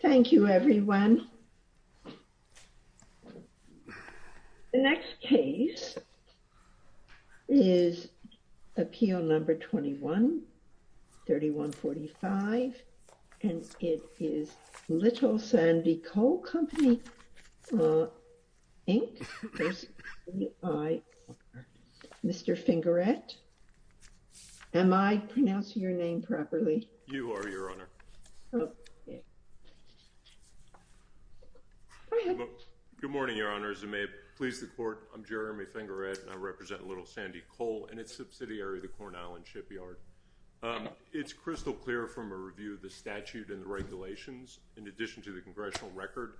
Thank you everyone. The next case is appeal number 21-3145 and it is Little Sandy Coal Company, Inc, personally by Mr. Fingarette. Am I pronouncing your name properly? You are, Your Honor. Go ahead. Good morning, Your Honor. As it may please the Court, I'm Jeremy Fingarette and I represent Little Sandy Coal and its subsidiary, the Corn Island Shipyard. It's crystal clear from a review of the statute and the regulations, in addition to the congressional record,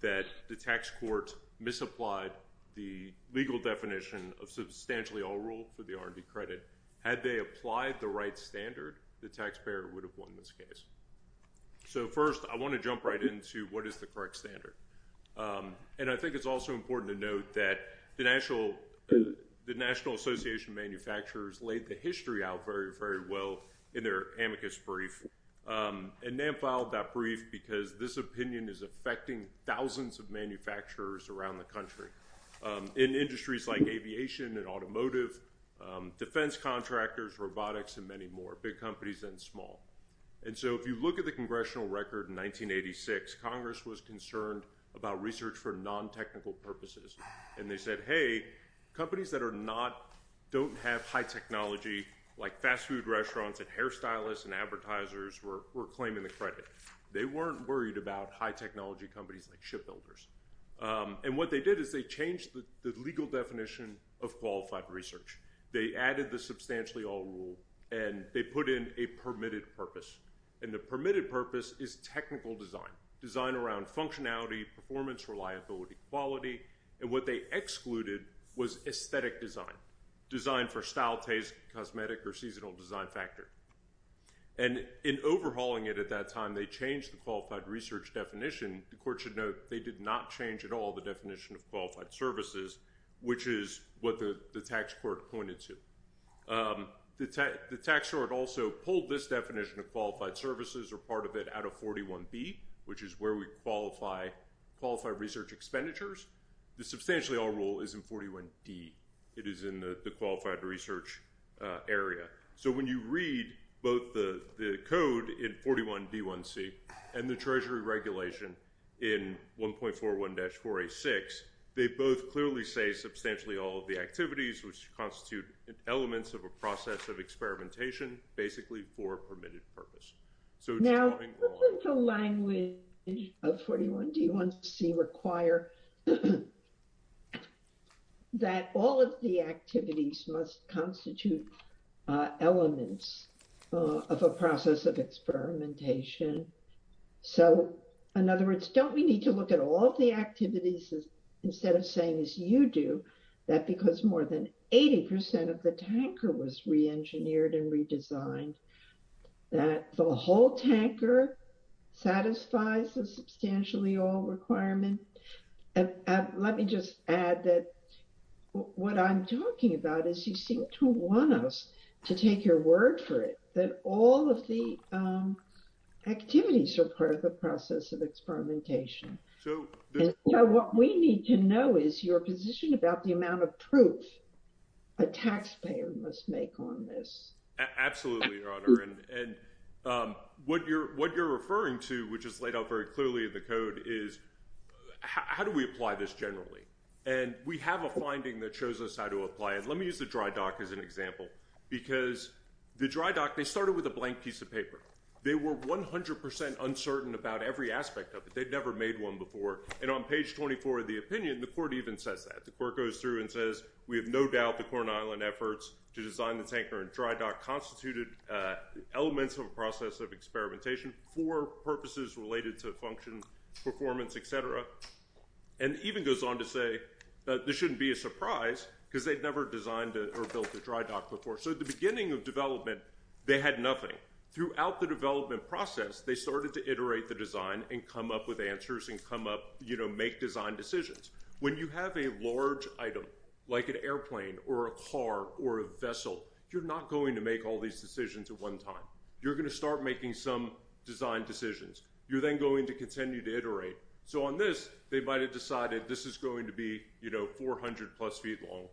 that the tax court misapplied the legal definition of substantially all rule for the R&D credit. Had they applied the right standard, the taxpayer would have won this case. So first, I want to jump right into what is the correct standard. And I think it's also important to note that the National Association of Manufacturers laid the history out very, very well in their amicus brief. And NAM filed that brief because this opinion is affecting thousands of manufacturers around the country, in industries like aviation and automotive, defense contractors, robotics and many more, big companies and small. And so if you look at the congressional record in 1986, Congress was concerned about research for non-technical purposes. And they said, hey, companies that are not, don't have high technology, like fast food restaurants and hair stylists and advertisers, we're claiming the credit. They weren't worried about high technology companies like shipbuilders. And what they did is they changed the legal definition of qualified research. They added the substantially all rule and they put in a permitted purpose. And the permitted purpose is technical design, design around functionality, performance, reliability, quality. And what they excluded was aesthetic design, design for style, taste, cosmetic or seasonal design factor. And in overhauling it at that time, they changed the qualified research definition. The court should note they did not change at all the definition of qualified services, which is what the tax court pointed to. The tax court also pulled this definition of qualified services or part of it out of 41B, which is where we qualify qualified research expenditures. The substantially all rule is in 41D. It is in the qualified research area. So when you read both the code in 41B1C and the treasury regulation in 1.41-486, they both clearly say substantially all of the activities, which constitute elements of a process of experimentation, basically for a permitted purpose. Now, doesn't the language of 41D1C require that all of the activities must constitute elements of a process of experimentation? So, in other words, don't we need to look at all the activities instead of saying, as you do, that because more than 80% of the tanker was re-engineered and redesigned, that the whole tanker satisfies the substantially all requirement? And let me just add that what I'm talking about is you seem to want us to take your word for it, that all of the activities are part of the process of experimentation. So what we need to know is your position about the amount of proof a taxpayer must make on this. Absolutely, Your Honor. And what you're referring to, which is laid out very clearly in the code, is how do we apply this generally? And we have a finding that shows us how to apply it. Let me use the dry dock as an example, because the dry dock, they started with a blank piece of paper. They were 100% uncertain about every aspect of it. They'd never made one before. And on page 24 of the opinion, the court even says that. The court goes through and says, we have no doubt the Corn Island efforts to design the tanker and dry dock constituted elements of a process of experimentation for purposes related to function, performance, et cetera. And even goes on to say that this shouldn't be a surprise, because they'd never designed or built a dry dock before. So at the beginning of development, they had nothing. Throughout the development process, they started to iterate the design and come up with answers and come up, make design decisions. When you have a large item, like an airplane or a car or a vessel, you're not going to make all these decisions at one time. You're going to start making some design decisions. You're then going to continue to iterate. So on this, they might have decided this is going to be 400 plus feet long.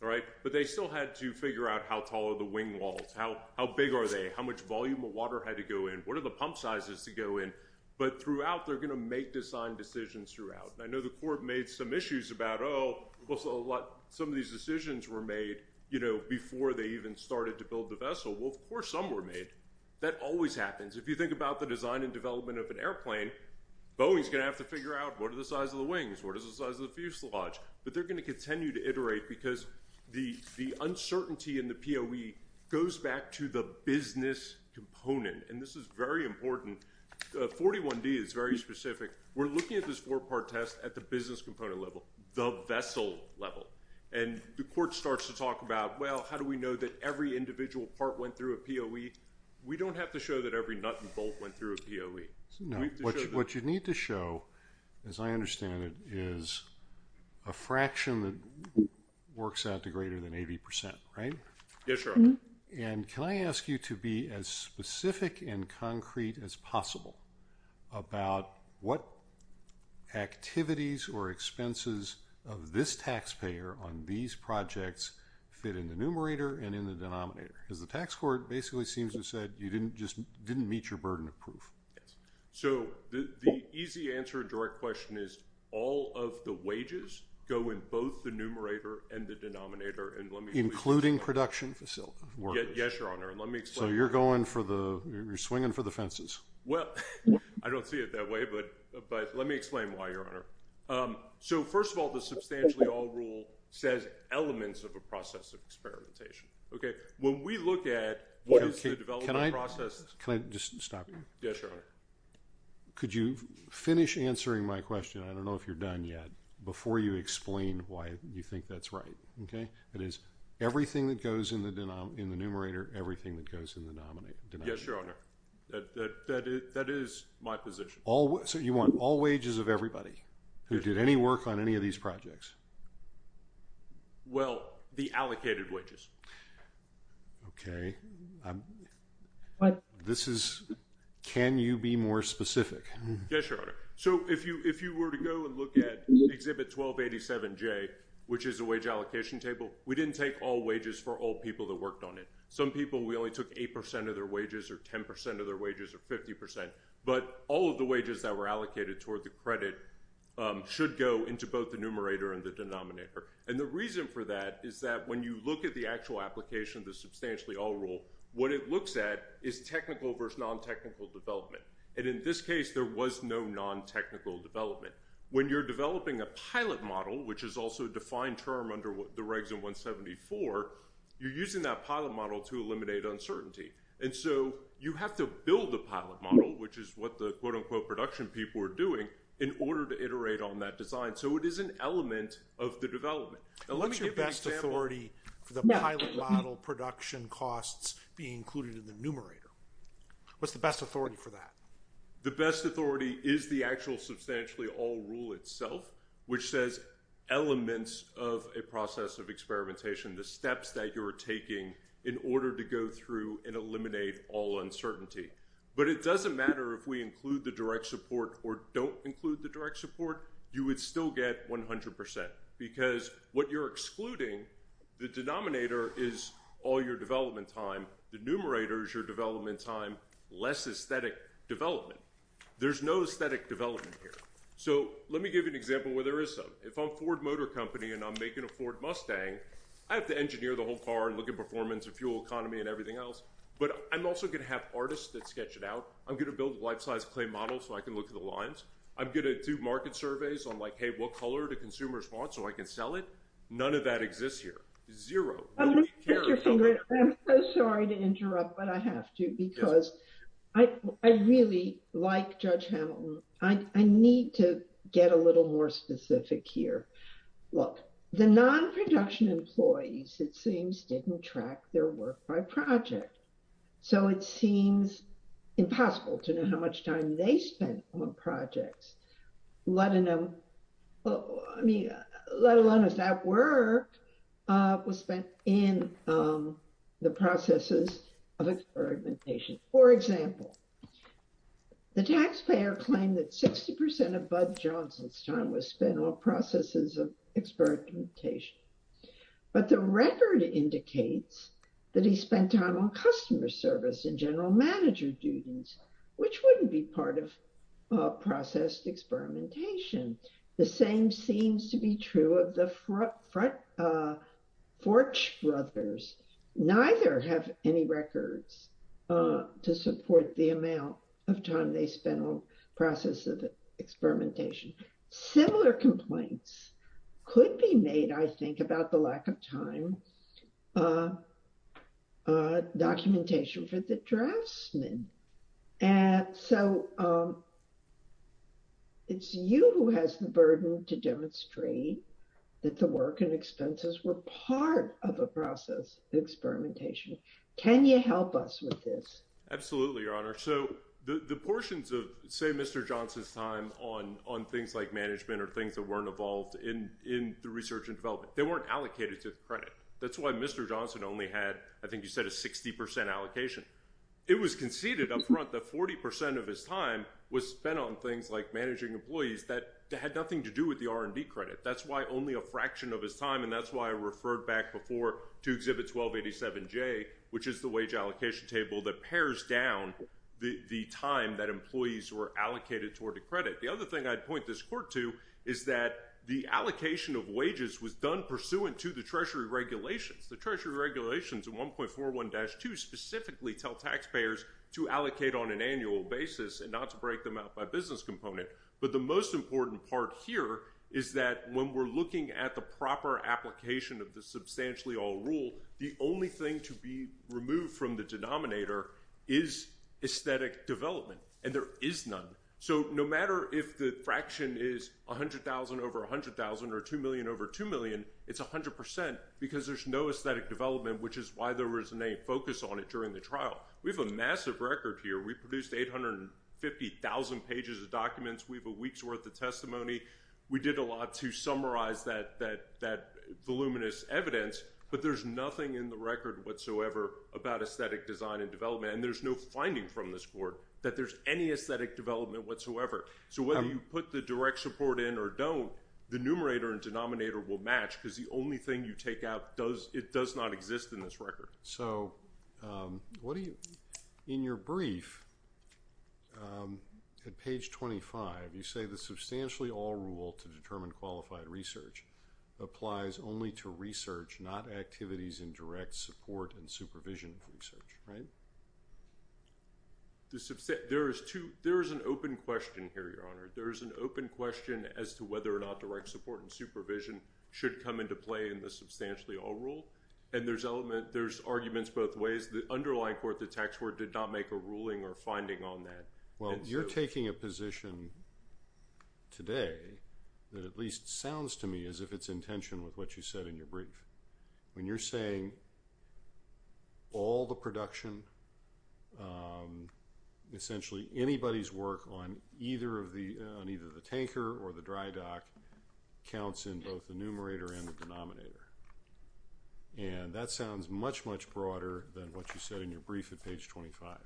But they still had to figure out how tall are the wing walls, how big are they, how much volume of pump size is to go in. But throughout, they're going to make design decisions throughout. I know the court made some issues about, oh, well, some of these decisions were made before they even started to build the vessel. Well, of course, some were made. That always happens. If you think about the design and development of an airplane, Boeing's going to have to figure out what are the size of the wings, what is the size of the fuselage. But they're going to continue to iterate, because the uncertainty in the POE goes back to the business component. And this is very important. 41D is very specific. We're looking at this four-part test at the business component level, the vessel level. And the court starts to talk about, well, how do we know that every individual part went through a POE? We don't have to show that every nut and bolt went through a POE. What you need to show, as I understand it, is a fraction that works out to greater than 80%, right? Yes, Your Honor. And can I ask you to be as specific and concrete as possible about what activities or expenses of this taxpayer on these projects fit in the numerator and in the denominator? Because the tax court basically seems to have said you just didn't meet your proof. So the easy answer to our question is all of the wages go in both the numerator and the denominator. Including production facilities? Yes, Your Honor. So you're swinging for the fences. Well, I don't see it that way, but let me explain why, Your Honor. So first of all, the substantially all rule says elements of a process of experimentation. When we look at what is the development process... Can I just stop you? Yes, Your Honor. Could you finish answering my question? I don't know if you're done yet. Before you explain why you think that's right, okay? It is everything that goes in the numerator, everything that goes in the denominator. Yes, Your Honor. That is my position. So you want all wages of everybody who did any work on any of these projects? Well, the allocated wages. Okay. Can you be more specific? Yes, Your Honor. So if you were to go and look at Exhibit 1287J, which is a wage allocation table, we didn't take all wages for all people that worked on it. Some people, we only took 8% of their wages or 10% of their wages or 50%, but all of the wages that were allocated toward the credit should go into both the numerator and the denominator. And the reason for that is that when you look at the actual application of the substantially all rule, what it looks at is technical versus non-technical development. And in this case, there was no non-technical development. When you're developing a pilot model, which is also a defined term under the regs in 174, you're using that pilot model to eliminate uncertainty. And so you have to build a pilot model, which is what the quote-unquote production people were doing, in order to iterate on that design. So it is an element of the development. What's your best authority for the pilot model production costs being included in the numerator? What's the best authority for that? The best authority is the actual substantially all rule itself, which says elements of a process of experimentation, the steps that you're taking in order to go through and eliminate all uncertainty. But it doesn't matter if we include the direct support or don't include the direct support, you would still get 100%. Because what you're excluding, the denominator is all your development time. The numerator is your development time, less aesthetic development. There's no aesthetic development here. So let me give you an example where there is some. If I'm Ford Motor Company and I'm making a Ford Mustang, I have to engineer the whole car and look at performance and fuel economy and everything else. But I'm also going to have artists that sketch it out. I'm going to build a life-size clay model so I can look at the lines. I'm going to do market surveys on like, hey, what color do consumers want so I can sell it? None of that exists here. Zero. I'm so sorry to interrupt, but I have to because I really like Judge Hamilton. I need to get a little more specific here. Look, the non-production employees, it seems, didn't track their work by project. So it seems impossible to know how much time they spent on projects, let alone if that work was spent in the processes of experimentation. For example, the taxpayer claimed that 60% of experimentation. But the record indicates that he spent time on customer service and general manager duties, which wouldn't be part of processed experimentation. The same seems to be true of the Forch brothers. Neither have any records to support the amount of time they spent on experimentation. Similar complaints could be made, I think, about the lack of time documentation for the draftsmen. So it's you who has the burden to demonstrate that the work and expenses were part of a process of experimentation. Can you help us with this? Absolutely, Your Honor. So the portions of, say, Mr. Johnson's time on things like management or things that weren't involved in the research and development, they weren't allocated to the credit. That's why Mr. Johnson only had, I think you said, a 60% allocation. It was conceded up front that 40% of his time was spent on things like managing employees that had nothing to do with the R&D credit. That's why only a fraction of his time, and that's why I referred back before to Exhibit 1287J, which is the wage allocation table that pairs down the time that employees were allocated toward a credit. The other thing I'd point this court to is that the allocation of wages was done pursuant to the Treasury regulations. The Treasury regulations in 1.41-2 specifically tell taxpayers to allocate on an annual basis and not to break them out by business component. But the most important part here is that when we're looking at the proper application of the substantially all the only thing to be removed from the denominator is aesthetic development, and there is none. So no matter if the fraction is 100,000 over 100,000 or 2 million over 2 million, it's 100% because there's no aesthetic development, which is why there was no focus on it during the trial. We have a massive record here. We produced 850,000 pages of documents. We have a week's worth of nothing in the record whatsoever about aesthetic design and development, and there's no finding from this court that there's any aesthetic development whatsoever. So whether you put the direct support in or don't, the numerator and denominator will match because the only thing you take out does it does not exist in this record. So what do you in your brief at page 25, you say the substantially all rule to determine qualified research applies only to research, not activities in direct support and supervision of research, right? There is an open question here, Your Honor. There is an open question as to whether or not direct support and supervision should come into play in the substantially all rule, and there's arguments both ways. The underlying court, the tax court, did not make a ruling or finding on that. Well, you're taking a position today that at least sounds to me as if it's in tension with what you said in your brief. When you're saying all the production, essentially anybody's work on either of the on either the tanker or the dry dock counts in both the numerator and the denominator, and that sounds much, much broader than what you said in your brief at page 25.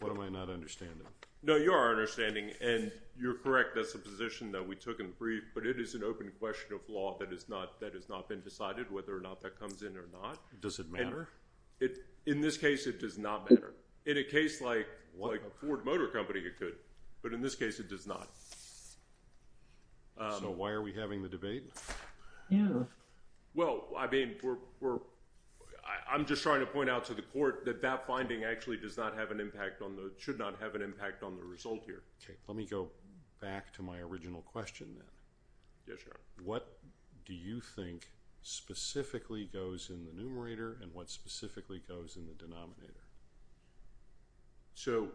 What am I not understanding? No, you are understanding, and you're correct. That's the position that we took in the brief, but it is an open question of law that has not been decided whether or not that comes in or not. Does it matter? In this case, it does not matter. In a case like a Ford Motor Company, it could, but in this case, it does not. So why are we having the debate? Well, I mean, I'm just trying to point out to the court that that finding actually does should not have an impact on the result here. Okay. Let me go back to my original question then. Yes, your honor. What do you think specifically goes in the numerator and what specifically goes in the denominator? So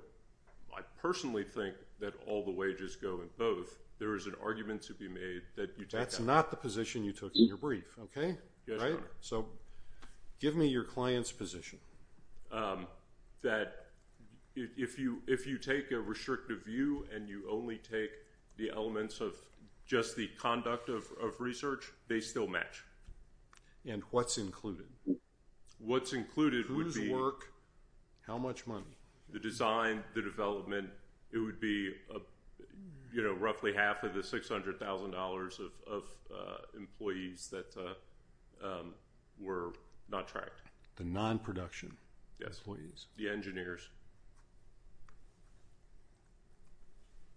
I personally think that all the wages go in both. There is an argument to be made that you That's not the position you took in your brief, okay? Yes, your honor. So give me your client's position. That if you take a restrictive view and you only take the elements of just the conduct of research, they still match. And what's included? What's included would be Whose work? How much money? The design, the development. It would be roughly half of the $600,000 of employees that were not tracked. The non-production. Yes, please. The engineers.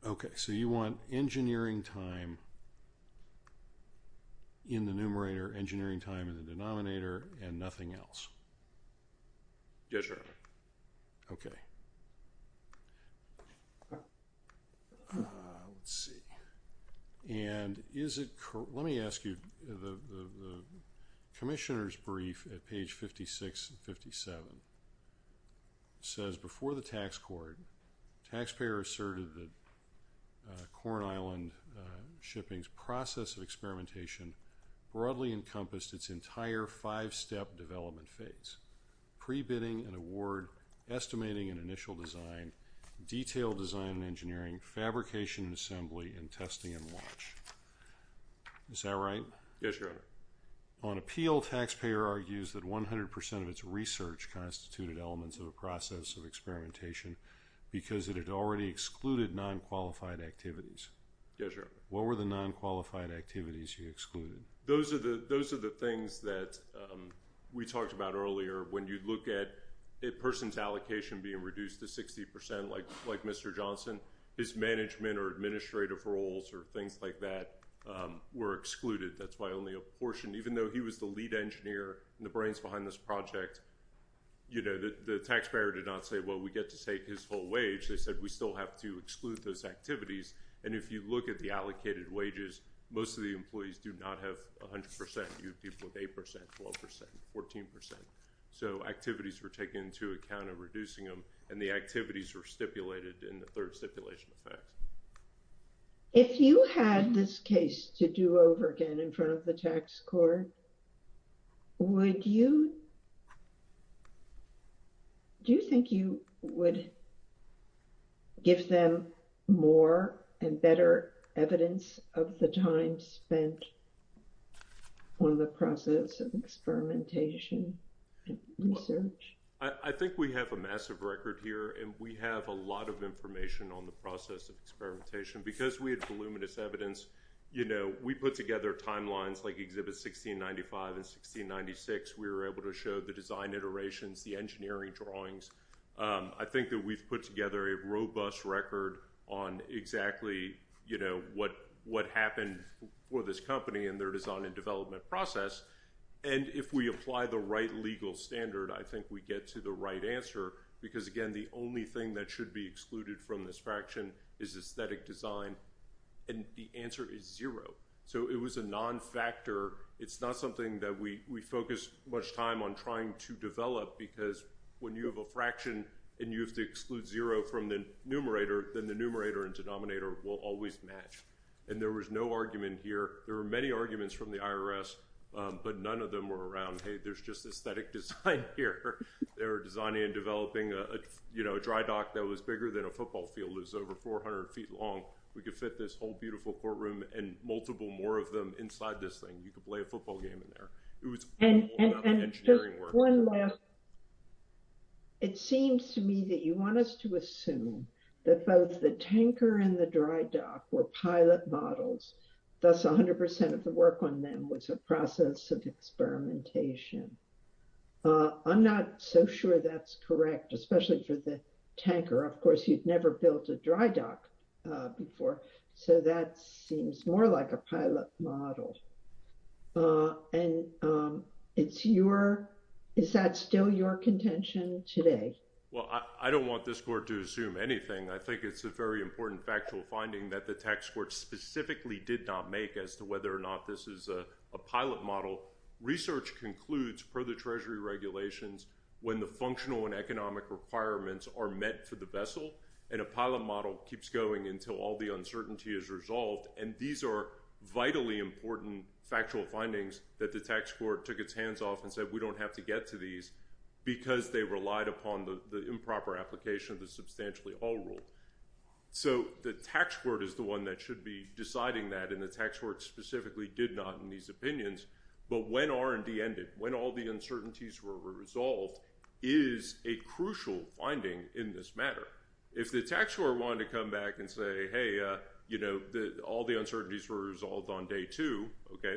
Okay. So you want engineering time in the numerator, engineering time in the denominator, and nothing else? Yes, your honor. Okay. Let's see. And let me ask you, the commissioner's brief at page 56 and 57 says, before the tax court, taxpayer asserted that Corn Island Shipping's process of experimentation broadly encompassed its entire five-step development phase. Pre-bidding an award, estimating an initial design, detailed design and engineering, fabrication and assembly, and testing and launch. Is that right? Yes, your honor. On appeal, taxpayer argues that 100% of its research constituted elements of a process of experimentation because it had already excluded non-qualified activities. Yes, your honor. What were the non-qualified activities you excluded? Those are the things that we talked about earlier. When you look at a person's allocation being reduced to 60%, like Mr. Johnson, his management or administrative roles or things like that were excluded. That's why only a portion, even though he was the lead engineer and the brains behind this project, you know, the taxpayer did not say, well, we get to take his full wage. They said, we still have to exclude those activities. And if you look at the allocated wages, most of the employees do not have 100%. You have people with 8%, 12%, 14%. So activities were taken into account in reducing them. And the activities were stipulated in the third stipulation effect. If you had this case to do over again in front of the tax court, would you, do you think you would give them more and better evidence of the time spent I think we have a massive record here. And we have a lot of information on the process of experimentation because we had voluminous evidence. You know, we put together timelines like exhibit 1695 and 1696. We were able to show the design iterations, the engineering drawings. I think that we've put together a robust record on exactly, you know, what happened for this company and their design and development process. And if we apply the right legal standard, I think we get to the right answer. Because again, the only thing that should be excluded from this fraction is aesthetic design. And the answer is zero. So it was a non-factor. It's not something that we focus much time on trying to develop. Because when you have a fraction and you have to exclude zero from the numerator, then the numerator and denominator will always match. And there was no argument here. There were many arguments from the IRS, but none of them were around, hey, there's just aesthetic design here. They were designing and developing a dry dock that was bigger than a football field. It was over 400 feet long. We could fit this whole beautiful courtroom and multiple more of them inside this thing. You could play a football game in there. It was all about the engineering work. And just one last. It seems to me that you want us to assume that both the tanker and the dry dock were pilot models. Thus, 100% of the work on them was a process of experimentation. I'm not so sure that's correct, especially for the tanker. Of course, you've never built a dry dock before. So that seems more like a pilot model. And is that still your contention today? Well, I don't want this court to assume anything. I think it's a very important factual finding that the tax court specifically did not make as to whether or not this is a pilot model. Research concludes, per the Treasury regulations, when the functional and economic requirements are met for the vessel. And a pilot model keeps going until all the uncertainty is resolved. And these are vitally important factual findings that the tax court took its hands off and said, we don't have to get to these because they relied upon the improper application of the substantially all rule. So the tax court is the one that should be deciding that. And the tax court specifically did not in these opinions. But when R&D ended, when all the uncertainties were resolved, is a crucial finding in this matter. If the tax court wanted to come back and say, hey, all the uncertainties were resolved on day two. I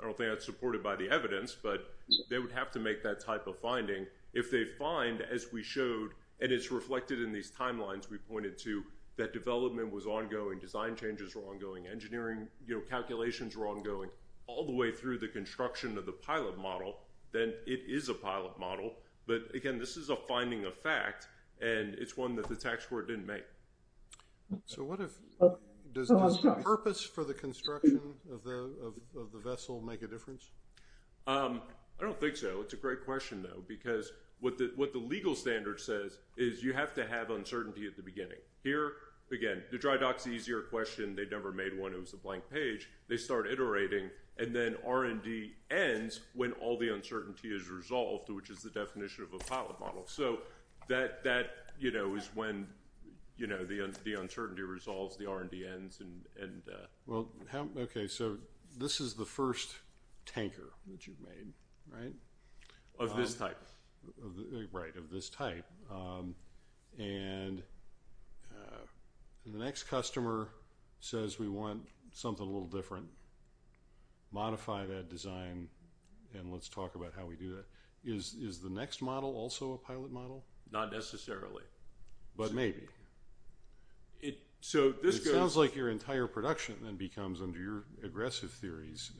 don't think that's supported by the evidence. But they would have to make that type of finding if they find as we showed. And it's reflected in these timelines we pointed to that development was ongoing, design changes were ongoing, engineering calculations were ongoing all the way through the construction of the pilot model. Then it is a pilot model. But again, this is a finding of fact. And it's one that the tax court didn't make. So what if does the purpose for the construction of the vessel make a difference? I don't think so. It's a great question, though. Because what the legal standard says is you have to have uncertainty at the beginning. Here, again, the dry dock's easier question. They never made one. It was a blank page. They start iterating. And then R&D ends when all the uncertainty is resolved, which is the definition of a pilot model. So that is when the uncertainty resolves. The R&D ends. Well, OK. So this is the first tanker that you've made. Of this type. Right, of this type. And the next customer says, we want something a little different. Modify that design. And let's talk about how we do that. Is the next model also a pilot model? Not necessarily. But maybe. It sounds like your entire production then becomes, under your aggressive theories,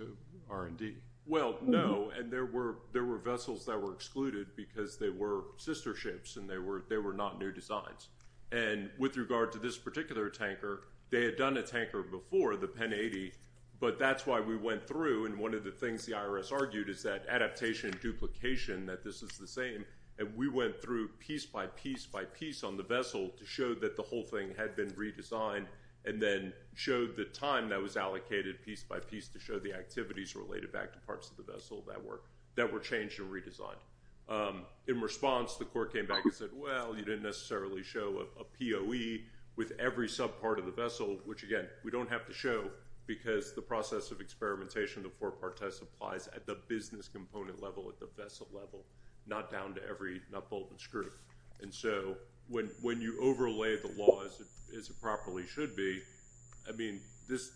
R&D. Well, no. And there were vessels that were excluded because they were sister ships. And they were not new designs. And with regard to this particular tanker, they had done a tanker before, the Penn 80. But that's why we went through. And one of the things the IRS argued is that adaptation and duplication, that this is the same. And we went through piece by piece by piece on the vessel to show that the whole thing had been redesigned. And then showed the time that was allocated piece by piece to show the activities related back to parts of the vessel that were changed and redesigned. In response, the court came back and said, well, you didn't necessarily show a POE with every subpart of the vessel. Which, again, we don't have to show because the process of experimentation, the four-part test applies at the business component level, at the vessel level. Not down to every nut, bolt, and screw. And so when you overlay the laws as it properly should be, I mean, this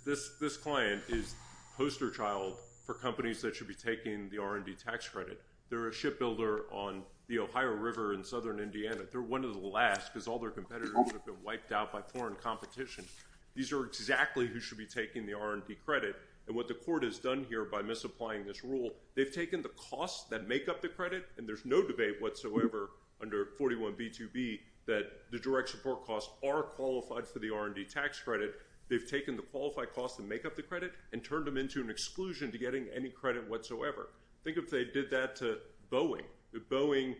client is poster child for companies that should be taking the R&D tax credit. They're a shipbuilder on the Ohio River in southern Indiana. They're one of the last because all their competitors would have been wiped out by foreign competition. These are exactly who should be taking the R&D credit. And what the court has done here by misapplying this rule, they've taken the costs that make up the credit, and there's no debate whatsoever under 41b2b that the direct support costs are qualified They've taken the qualified costs that make up the credit and turned them into an exclusion to getting any credit whatsoever. Think if they did that to Boeing. If Boeing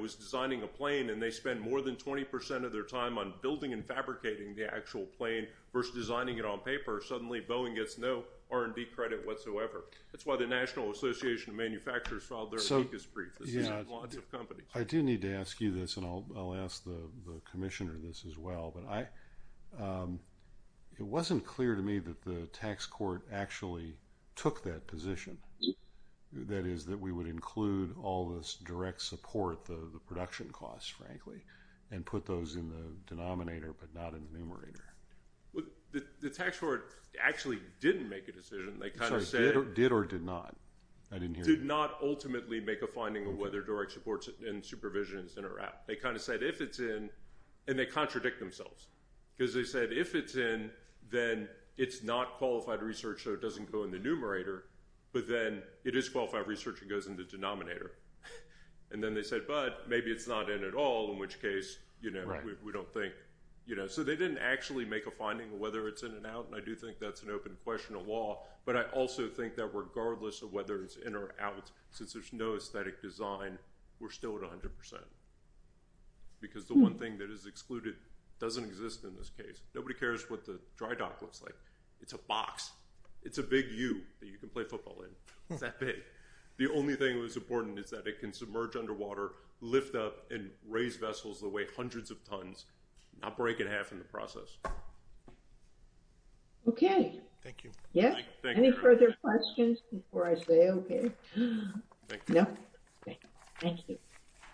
was designing a plane and they spend more than 20% of their time on building and fabricating the actual plane versus designing it on paper, suddenly Boeing gets no R&D credit whatsoever. That's why the National Association of Manufacturers filed their weakest brief. This is in lots of companies. I do need to ask you this, and I'll ask the commissioner this as well. It wasn't clear to me that the tax court actually took that position. That is that we would include all this direct support, the production costs, frankly, and put those in the denominator, but not in the numerator. The tax court actually didn't make a decision. They kind of said... Did or did not? Did not ultimately make a finding of whether direct support and supervision is in or out. They kind of said if it's in, and they contradict themselves, because they said if it's in, then it's not qualified research, so it doesn't go in the numerator, but then it is qualified research and goes in the denominator. Then they said, but maybe it's not in at all, in which case we don't think... They didn't actually make a finding of whether it's in and out, and I do think that's an open question of law, but I also think that regardless of whether it's in or out, since there's no aesthetic design, we're still at 100%, because the one thing that is excluded doesn't exist in this case. Nobody cares what the dry dock looks like. It's a box. It's a big U that you can play football in. It's that big. The only thing that was important is that it can submerge underwater, lift up, and raise vessels that weigh hundreds of tons, not break it in half in the process. Okay. Thank you. Yeah. Any further questions before I say okay? No? Thank you.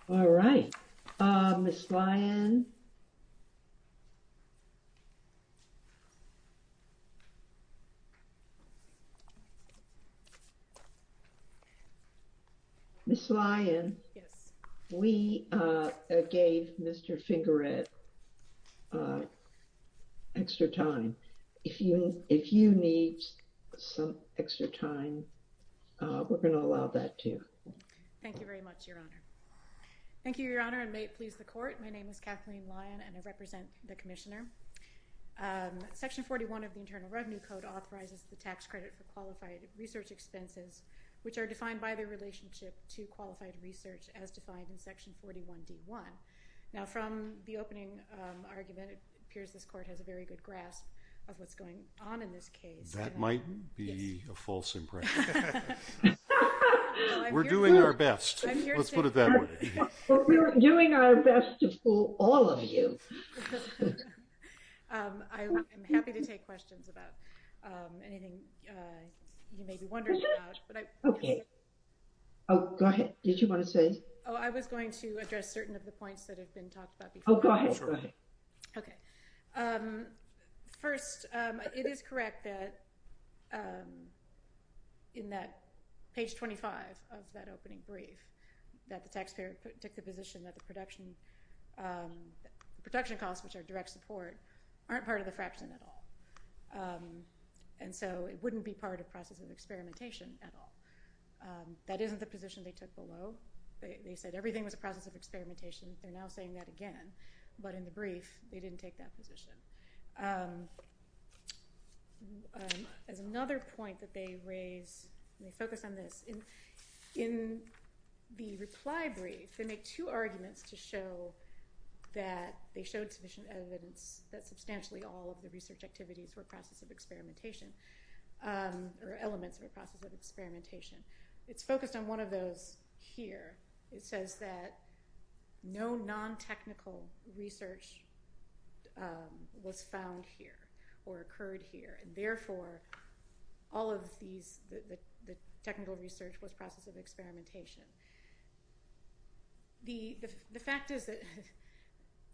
All right. Ms. Lyon? Ms. Lyon? Yes. We gave Mr. Fingerett extra time. If you need some extra time, we're going to allow that too. Thank you very much, Your Honor. Thank you, Your Honor, and may it please the court. My name is Kathleen Lyon, and I represent the commissioner. Section 41 of the Internal Revenue Code authorizes the tax credit for qualified research expenses, which are defined by the relationship to qualified research, as defined in section 41D1. Now, from the opening argument, it appears this court has a very good grasp of what's going on in this case. That might be a false impression. Yes. We're doing our best. Let's put it that way. But we're doing our best to fool all of you. I am happy to take questions about anything you may be wondering about, but I... Okay. Oh, go ahead. Did you want to say? Oh, I was going to address certain of the points that have been talked about before. Oh, go ahead. Okay. First, it is correct that in that page 25 of that opening brief, that the taxpayer took the position that the production costs, which are direct support, aren't part of the fraction at all. And so it wouldn't be part of process of experimentation at all. That isn't the position they took below. They said everything was a process of experimentation. They're now saying that again, but in the brief, they didn't take that position. As another point that they raise, and they focus on this, in the reply brief, they make two arguments to show that they showed sufficient evidence that substantially all of the research activities were process of experimentation or elements of a process of experimentation. It's focused on one of those here. It says that no non-technical research was found here or occurred here. And therefore all of these, the technical research was process of experimentation. The fact is that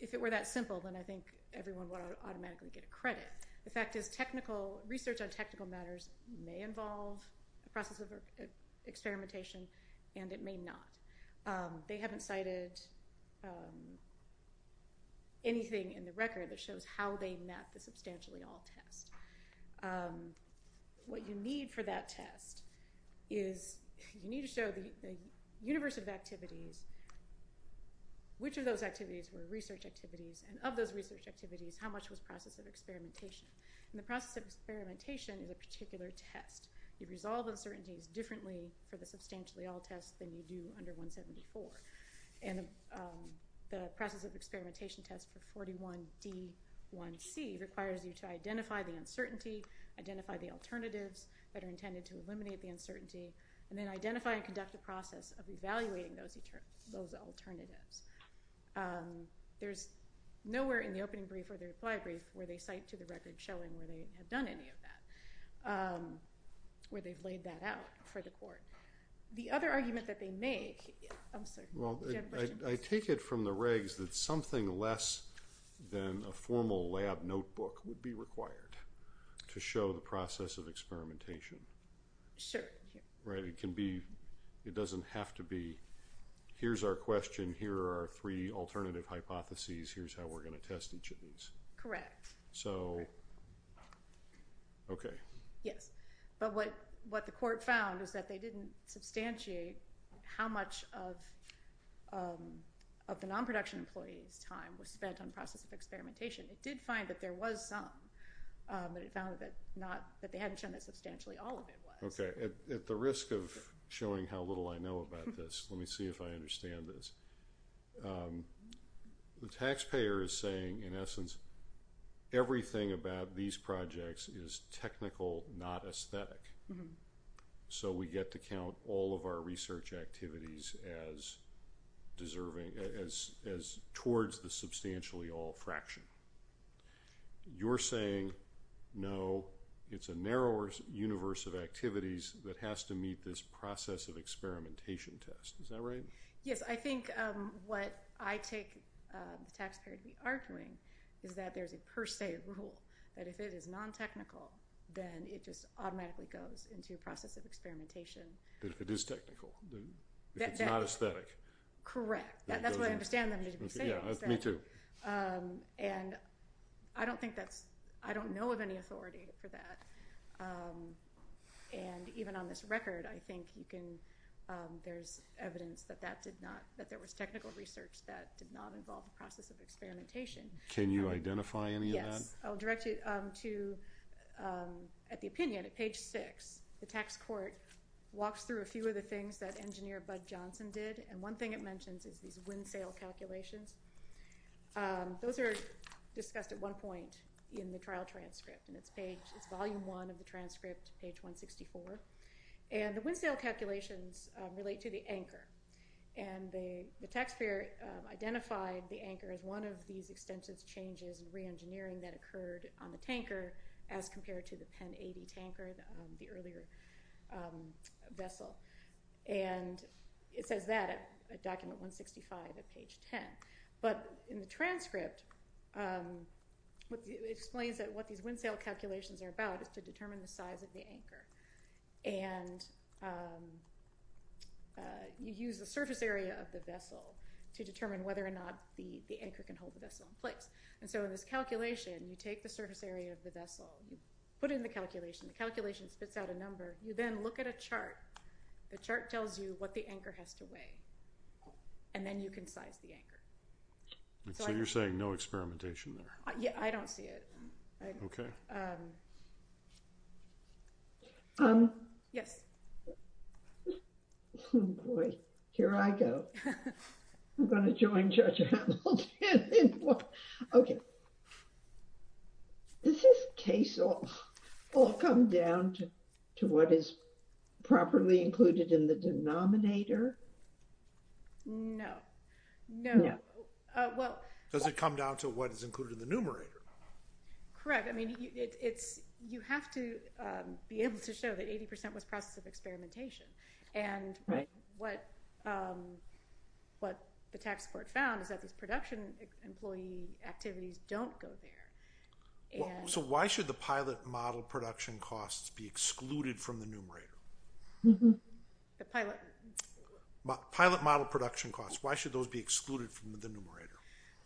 if it were that simple, then I think everyone would automatically get a credit. The fact is research on technical matters may involve a process of experimentation, and it may not. They haven't cited anything in the record that shows how they met the substantially all test. What you need for that test is you need to show the universe of activities, which of those activities were research activities, and of those research activities, how much was process of experimentation. And the process of experimentation is a particular test. You resolve uncertainties differently for the substantially all test than you do under 174. And the process of experimentation test for 41D1C requires you to identify the uncertainty, identify the alternatives that are intended to eliminate the uncertainty, and then identify and conduct a process of evaluating those alternatives. There's nowhere in the opening brief or the reply brief where they cite to the record showing where they have done any of that, where they've laid that out for the court. The other argument that they make, I'm sorry. Well, I take it from the regs that something less than a formal lab notebook would be required to show the process of experimentation. Sure. Right. It can be. It doesn't have to be. Here's our question. Here are our three alternative hypotheses. Here's how we're going to test each of these. Correct. So, okay. Yes. But what the court found is that they didn't substantiate how much of of the non-production employee's time was spent on process of experimentation. It did find that there was some, but it found that not, that they hadn't shown that substantially all of it was. Okay. At the risk of showing how little I know about this, let me see if I understand this. The taxpayer is saying, in essence, everything about these projects is technical, not aesthetic. So we get to count all of our research activities as deserving, as towards the substantially all fraction. You're saying, no, it's a narrower universe of activities that has to meet this process of experimentation test. Is that right? Yes. I think what I take the taxpayer to be arguing is that there's a per se rule that if it is non-technical, then it just automatically goes into a process of experimentation. If it is technical, if it's not aesthetic. Correct. That's what I understand them to be saying. Yeah, me too. And I don't think that's, I don't know of any authority for that. And even on this record, I think you can, there's evidence that that did not, that there was technical research that did not involve the process of experimentation. Can you identify any of that? Yes. I'll direct you to at the opinion at page six, the tax court walks through a few of the things that engineer Bud Johnson did. And one thing it mentions is these wind sail calculations. Those are discussed at one point in the trial transcript and it's page, it's volume one of the transcript, page 164. And the wind sail calculations relate to the anchor and the taxpayer identified the anchor as one of these extensive changes in re-engineering that occurred on the tanker as compared to the Penn 80 tanker, the earlier vessel. And it says that at document 165 at page 10. But in the transcript explains that what these wind sail calculations are about is to determine the size of the anchor. And you use the surface area of the vessel to determine whether or not the anchor can hold the vessel in place. And so in this calculation, you take the surface area of the vessel, you put it in the calculation, the calculation spits out a number. You then look at a chart. The chart tells you what the anchor has to weigh and then you can size the anchor. So you're saying no experimentation there? Yeah, I don't see it. Okay. Yes. Boy, here I go. I'm going to join Judge Hamilton. Okay. Does this case all come down to what is properly included in the denominator? No. No. Well, does it come down to what is included in the numerator? Correct. I mean, it's, you have to be able to show that 80% was process of experimentation. And what the tax court found is that these production employee activities don't go there. So why should the pilot model production costs be excluded from the numerator? The pilot. Pilot model production costs. Why should those be excluded from the numerator?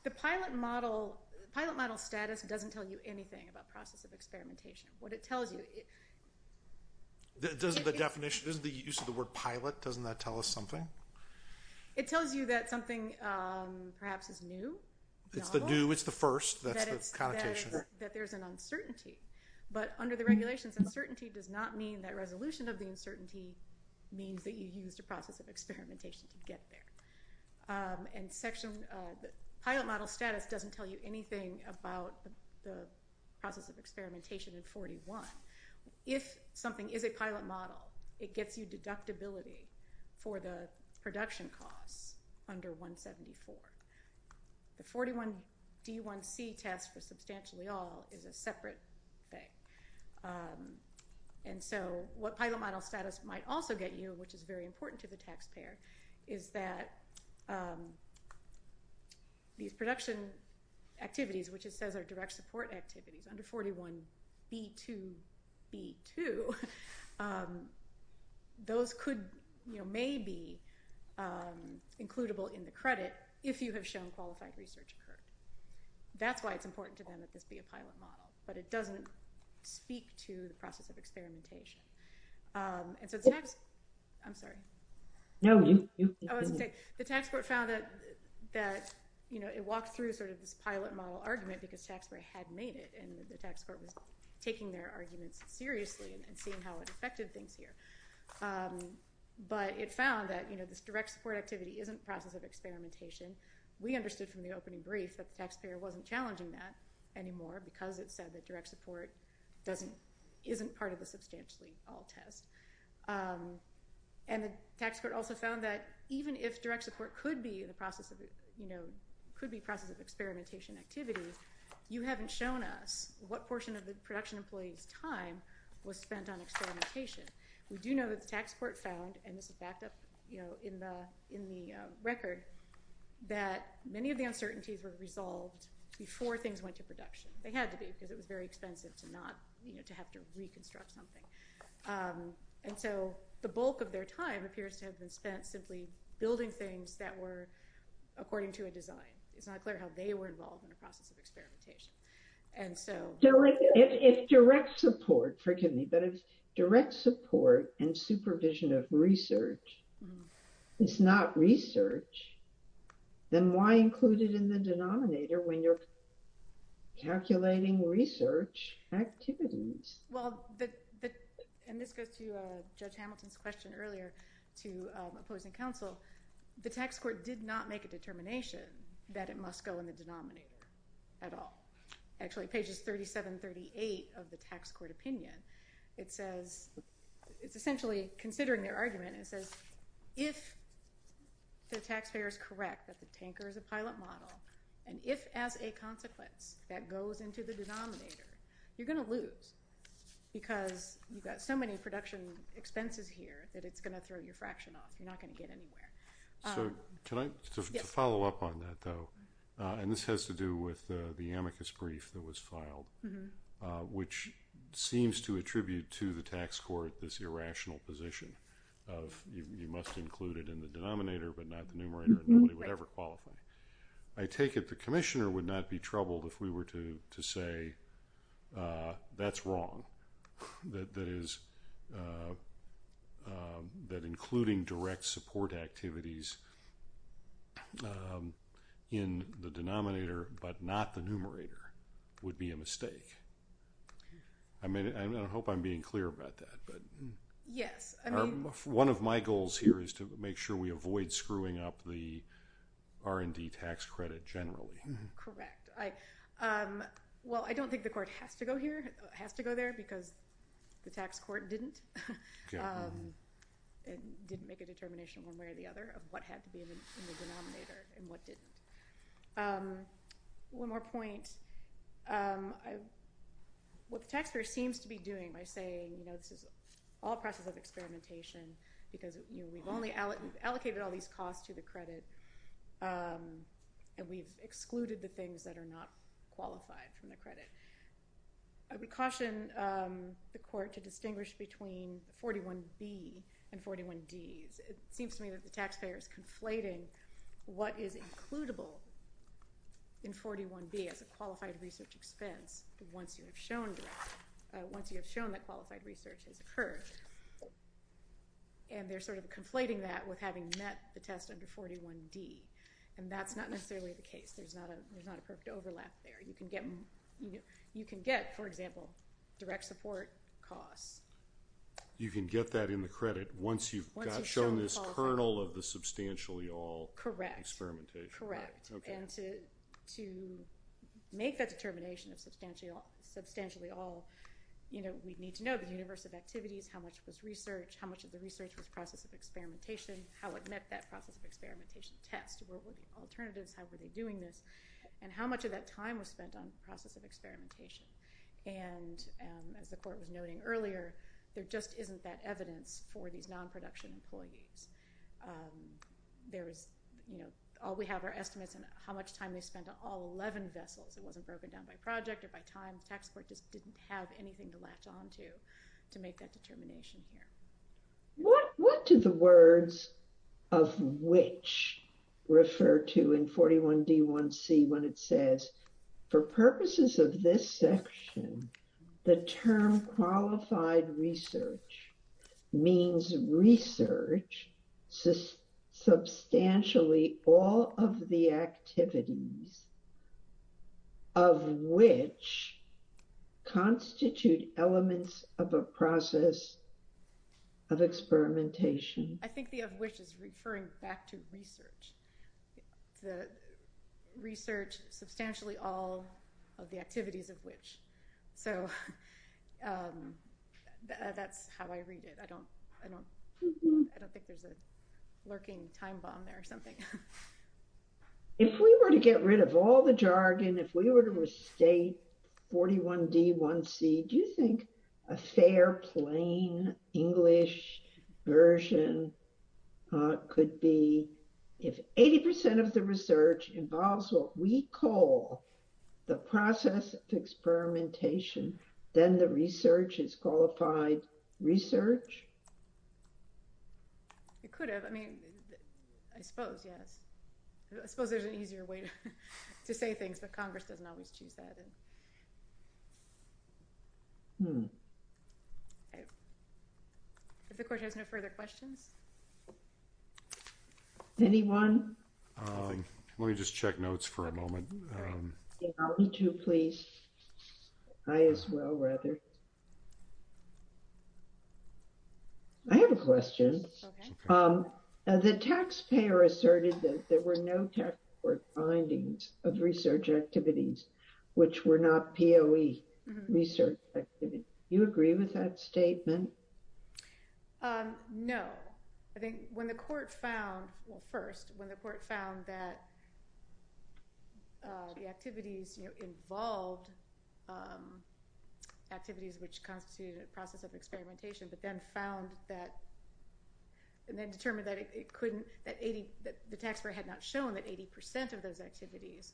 The pilot model, pilot model status doesn't tell you anything about process of experimentation. What it tells you. Doesn't the definition, doesn't the use of the word pilot, doesn't that tell us something? It tells you that something perhaps is new. It's the new, it's the first. That's the connotation. That there's an uncertainty. But under the regulations, uncertainty does not mean that resolution of the uncertainty means that you used a process of experimentation to get there. And pilot model status doesn't tell you anything about the process of experimentation in 41. If something is a pilot model, it gets you deductibility for the production costs under 174. The 41 D1C test for substantially all is a separate thing. And so what pilot model status might also get you, which is very important to the taxpayer, is that these production activities, which it says are direct support activities under 41 B2B2, those could, you know, may be includable in the credit if you have shown qualified research occurred. That's why it's important to them that this be a pilot model, but it doesn't speak to the process of experimentation. And so the next, I'm sorry. No, you continue. I was going to say, the tax court found that, that, you know, it walked through sort of this pilot model argument because taxpayer had made it and the tax court was taking their arguments seriously and seeing how it affected things here. But it found that, you know, this direct support activity isn't process of experimentation. We understood from the opening brief that the taxpayer wasn't challenging that anymore because it said that direct support isn't part of the substantially all test. And the tax court also found that even if direct support could be the process of, you know, could be process of experimentation activity, you haven't shown us what portion of the production employees time was spent on experimentation. We do know that the tax court found, and this is backed up, you know, in the record that many of the uncertainties were resolved before things went to production. They had to be because it was very expensive to not, you know, to have to reconstruct something. And so the bulk of their time appears to have been spent simply building things that were according to a design. It's not clear how they were involved in the process of experimentation. And so- So if direct support, forgive me, but if direct support and supervision of research is not research, then why include it in the denominator when you're calculating research activities? Well, and this goes to Judge Hamilton's question earlier to opposing counsel, the tax court did not make a determination that it must go in the denominator at all. Actually, pages 37, 38 of the tax court opinion, it says- it's essentially considering their argument and says, if the taxpayer is correct that the tanker is a pilot model, and if as a consequence that goes into the denominator, you're going to lose. Because you've got so many production expenses here that it's going to throw your fraction off. You're not going to get anywhere. So can I follow up on that, though? And this has to do with the amicus brief that was filed, which seems to attribute to the tax court this irrational position of you must include it in the denominator, but not the numerator. Nobody would ever qualify. I take it the commissioner would not be troubled if we were to say that's wrong. That is- that including direct support activities in the denominator, but not the numerator, would be a mistake. I mean, I hope I'm being clear about that, but- Yes, I mean- One of my goals here is to make sure we avoid screwing up the R&D tax credit generally. Correct. Well, I don't think the court has to go here, has to go there, because the tax court didn't. It didn't make a determination one way or the other of what had to be in the denominator and what didn't. One more point. What the taxpayer seems to be doing by saying, you know, this is all a process of experimentation because we've only allocated all these costs to the credit and we've excluded the things that are not qualified from the credit. I would caution the court to distinguish between 41B and 41Ds. It seems to me that the taxpayer is conflating what is includable in 41B as a qualified research expense once you have shown- once you have shown that qualified research has occurred. And they're sort of conflating that with having met the test under 41D. And that's not necessarily the case. There's not a perfect overlap there. You can get, for example, direct support costs. You can get that in the credit once you've shown this kernel of the substantially all- Correct. Experimentation. Correct. And to make that determination of substantially all, you know, we need to know the universe of activities, how much was research, how much of the research was process of experimentation, how it met that process of experimentation test. What were the alternatives? How were they doing this? And how much of that time was spent on process of experimentation? And as the court was noting earlier, there just isn't that evidence for these non-production employees. There is, you know, all we have are estimates and how much time they spent on all 11 vessels. It wasn't broken down by project or by time. The tax court just didn't have anything to latch on to to make that determination here. What do the words of which refer to in 41D1C when it says, for purposes of this section, the term qualified research means research, substantially all of the activities of which constitute elements of a process of experimentation. I think the of which is referring back to research. The research substantially all of the activities of which. So that's how I read it. I don't think there's a lurking time bomb there or something. If we were to get rid of all the jargon, if we were to restate 41D1C, do you think a fair, plain English version could be if 80% of the research involves what we call the process of experimentation, then the research is qualified research? It could have. I mean, I suppose, yes. I suppose there's an easier way to say things, but Congress doesn't always choose that. If the court has no further questions. Anyone? Let me just check notes for a moment. I have a question. The taxpayer asserted that there were no findings of research activities, which were not POE research. You agree with that statement? No. I think when the court found, well, first, when the court found that the activities involved activities which constitute a process of experimentation, but then found that, and then determined that it couldn't, that the taxpayer had not shown that 80% of those activities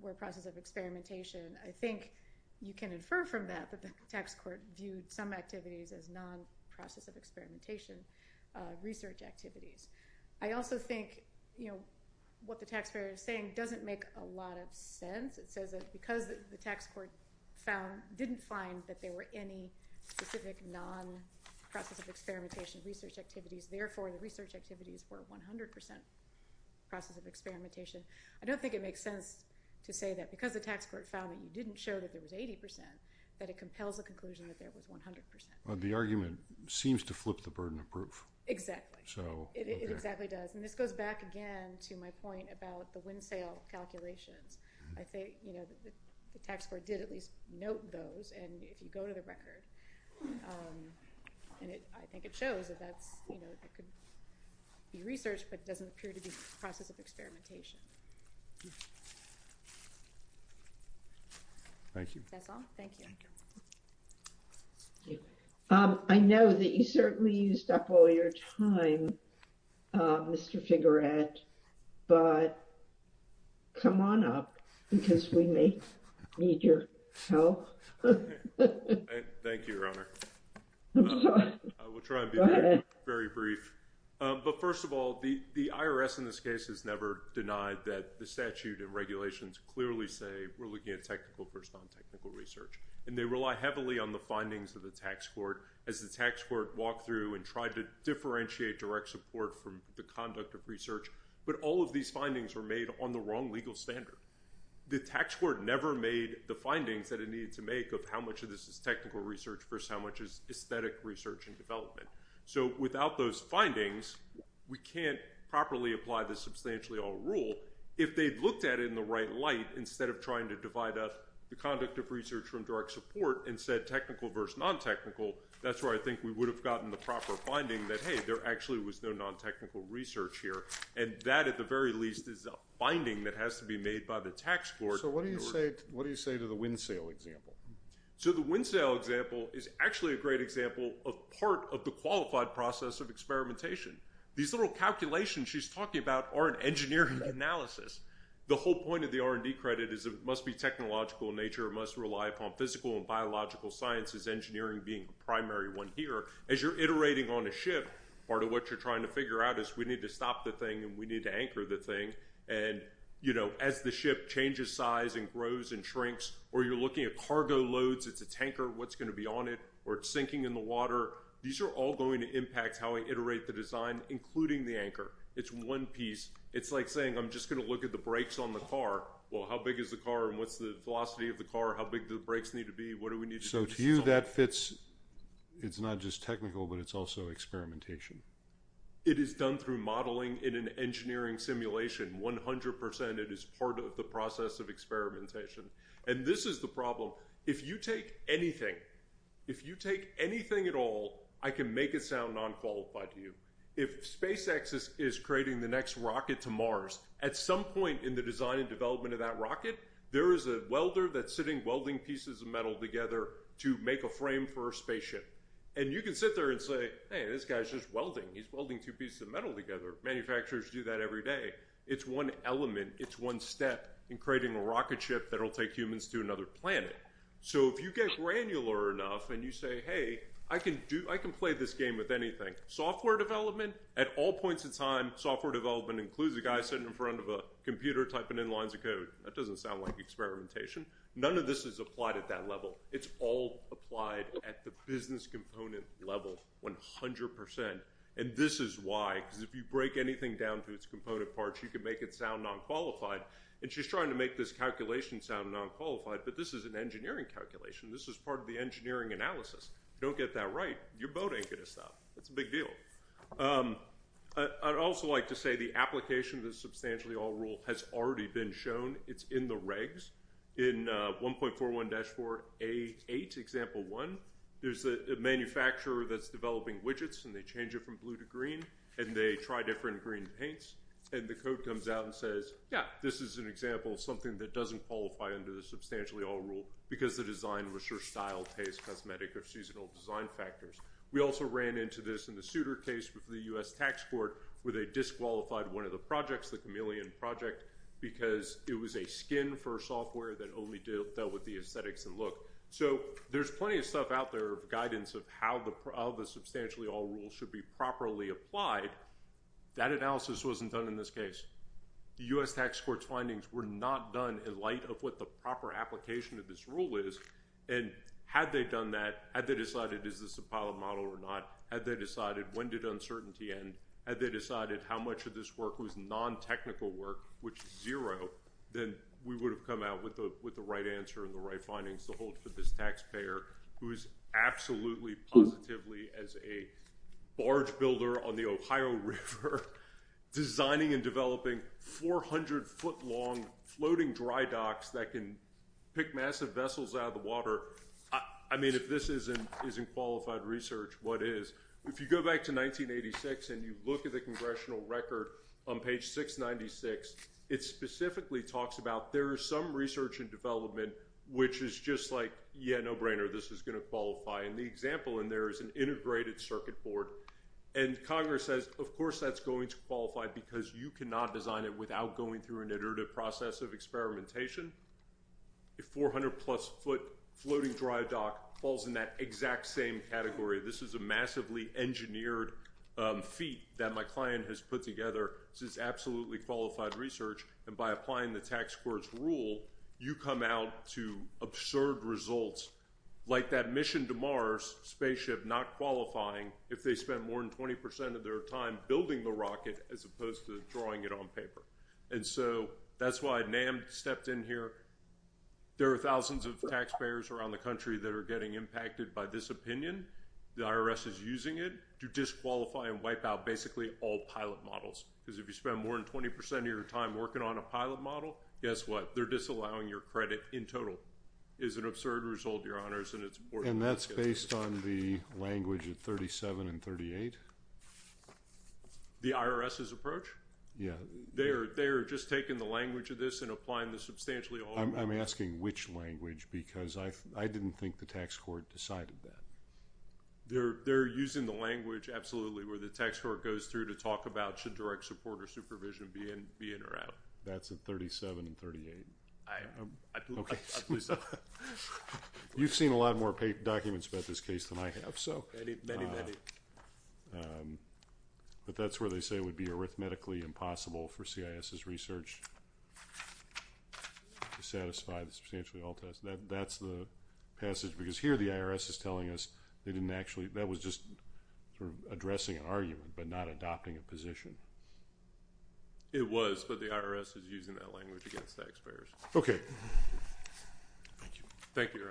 were process of experimentation. I think you can infer from that, that the tax court viewed some activities as non-process of experimentation research activities. I also think, what the taxpayer is saying doesn't make a lot of sense. It says that because the tax court didn't find that there were any specific non-process of experimentation research activities, therefore the research activities were 100% process of experimentation. I don't think it makes sense to say that because the tax court found that you didn't show that there was 80%, that it compels the conclusion that there was 100%. The argument seems to flip the burden of proof. Exactly. So, okay. It exactly does. And this goes back again to my point about the windsail calculations. I think the tax court did at least note those. And if you go to the record, and I think it shows that that's, you know, it could be research, but it doesn't appear to be process of experimentation. Thank you. That's all. Thank you. Yeah. I know that you certainly used up all your time, Mr. Figurette, but come on up because we may need your help. Thank you, Your Honor. I will try and be very brief. But first of all, the IRS in this case has never denied that the statute and regulations clearly say we're looking at technical versus non-technical research. And they rely heavily on the findings of the tax court as the tax court walked through and tried to differentiate direct support from the conduct of research. But all of these findings were made on the wrong legal standard. The tax court never made the findings that it needed to make of how much of this is technical research versus how much is aesthetic research and development. So without those findings, we can't properly apply the substantially all rule if they'd looked at it in the right light instead of trying to divide up the conduct of research from direct support and said technical versus non-technical. That's where I think we would have gotten the proper finding that, hey, there actually was no non-technical research here. And that at the very least is a finding that has to be made by the tax court. So what do you say to the wind sail example? So the wind sail example is actually a great example of part of the qualified process of experimentation. These little calculations she's talking about are an engineering analysis. The whole point of the R&D credit is it must be technological in nature. It must rely upon physical and biological sciences, engineering being the primary one here. As you're iterating on a ship, part of what you're trying to figure out is we need to stop the thing and we need to anchor the thing. And as the ship changes size and grows and shrinks, or you're looking at cargo loads, it's a tanker, what's going to be on it? Or it's sinking in the water. These are all going to impact how we iterate the design, including the anchor. It's one piece. It's like saying, I'm just going to look at the brakes on the car. Well, how big is the car and what's the velocity of the car? How big do the brakes need to be? What do we need? So to you, that fits. It's not just technical, but it's also experimentation. It is done through modeling in an engineering simulation. One hundred percent, it is part of the process of experimentation. And this is the problem. If you take anything, if you take anything at all, I can make it sound non-qualified to you. If SpaceX is creating the next rocket to Mars, at some point in the design and development of that rocket, there is a welder that's sitting welding pieces of metal together to make a frame for a spaceship. And you can sit there and say, hey, this guy's just welding. He's welding two pieces of metal together. Manufacturers do that every day. It's one element. It's one step in creating a rocket ship that will take humans to another planet. So if you get granular enough and you say, hey, I can play this game with anything. Software development at all points in time, software development includes a guy sitting in front of a computer typing in lines of code. That doesn't sound like experimentation. None of this is applied at that level. It's all applied at the business component level, 100 percent. And this is why, because if you break anything down to its component parts, you can make it sound non-qualified. And she's trying to make this calculation sound non-qualified. But this is an engineering calculation. This is part of the engineering analysis. Don't get that right. Your boat ain't going to stop. That's a big deal. I'd also like to say the application of the substantially all rule has already been shown. It's in the regs. In 1.41-488 example one, there's a manufacturer that's developing widgets and they change it from blue to green and they try different green paints. And the code comes out and says, yeah, this is an example of something that doesn't qualify under the substantially all rule because the design research style pays cosmetic or seasonal design factors. We also ran into this in the suitor case with the U.S. tax court where they disqualified one of the projects, the chameleon project, because it was a skin for software that only dealt with the aesthetics and look. So there's plenty of stuff out there of guidance of how the substantially all rule should be properly applied. That analysis wasn't done in this case. The U.S. tax court's findings were not done in light of what the proper application of this rule is. And had they done that, had they decided, is this a pilot model or not? Had they decided when did uncertainty end? Had they decided how much of this work was non-technical work, which is zero, then we would have come out with the right answer and the right findings to hold for this taxpayer who is absolutely positively as a barge builder on the Ohio River designing and developing 400-foot-long floating dry docks that can pick massive vessels out of the water. I mean, if this isn't qualified research, what is? If you go back to 1986 and you look at the congressional record on page 696, it specifically talks about there is some research and development which is just like, yeah, no brainer, this is going to qualify. And the example in there is an integrated circuit board. And Congress says, of course, that's going to qualify because you cannot design it without going through an iterative process of experimentation. A 400-plus-foot floating dry dock falls in that exact same category. This is a massively engineered feat that my client has put together. This is absolutely qualified research. And by applying the tax court's rule, you come out to absurd results like that mission to Mars spaceship not qualifying if they spent more than 20% of their time building the rocket as opposed to drawing it on paper. And so that's why NAM stepped in here. There are thousands of taxpayers around the country that are getting impacted by this opinion. The IRS is using it to disqualify and wipe out basically all pilot models. Because if you spend more than 20% of your time working on a pilot model, guess what? They're disallowing your credit in total. It's an absurd result, Your Honors, and it's important. And that's based on the language at 37 and 38? The IRS's approach? Yeah. They're just taking the language of this and applying this substantially. I'm asking which language because I didn't think the tax court decided that. They're using the language, absolutely, where the tax court goes through should direct support or supervision be in or out. That's at 37 and 38. You've seen a lot more documents about this case than I have. But that's where they say it would be arithmetically impossible for CIS's research to satisfy the substantially all test. That's the passage. Because here the IRS is telling us they didn't actually, that was just addressing an argument, but not adopting a position. It was, but the IRS is using that language against taxpayers. Okay. Thank you. Thank you, Your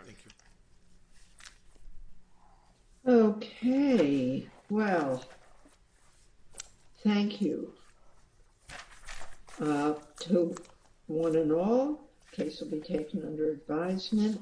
Honor. Okay. Well, thank you to one and all. Case will be taken under advisement.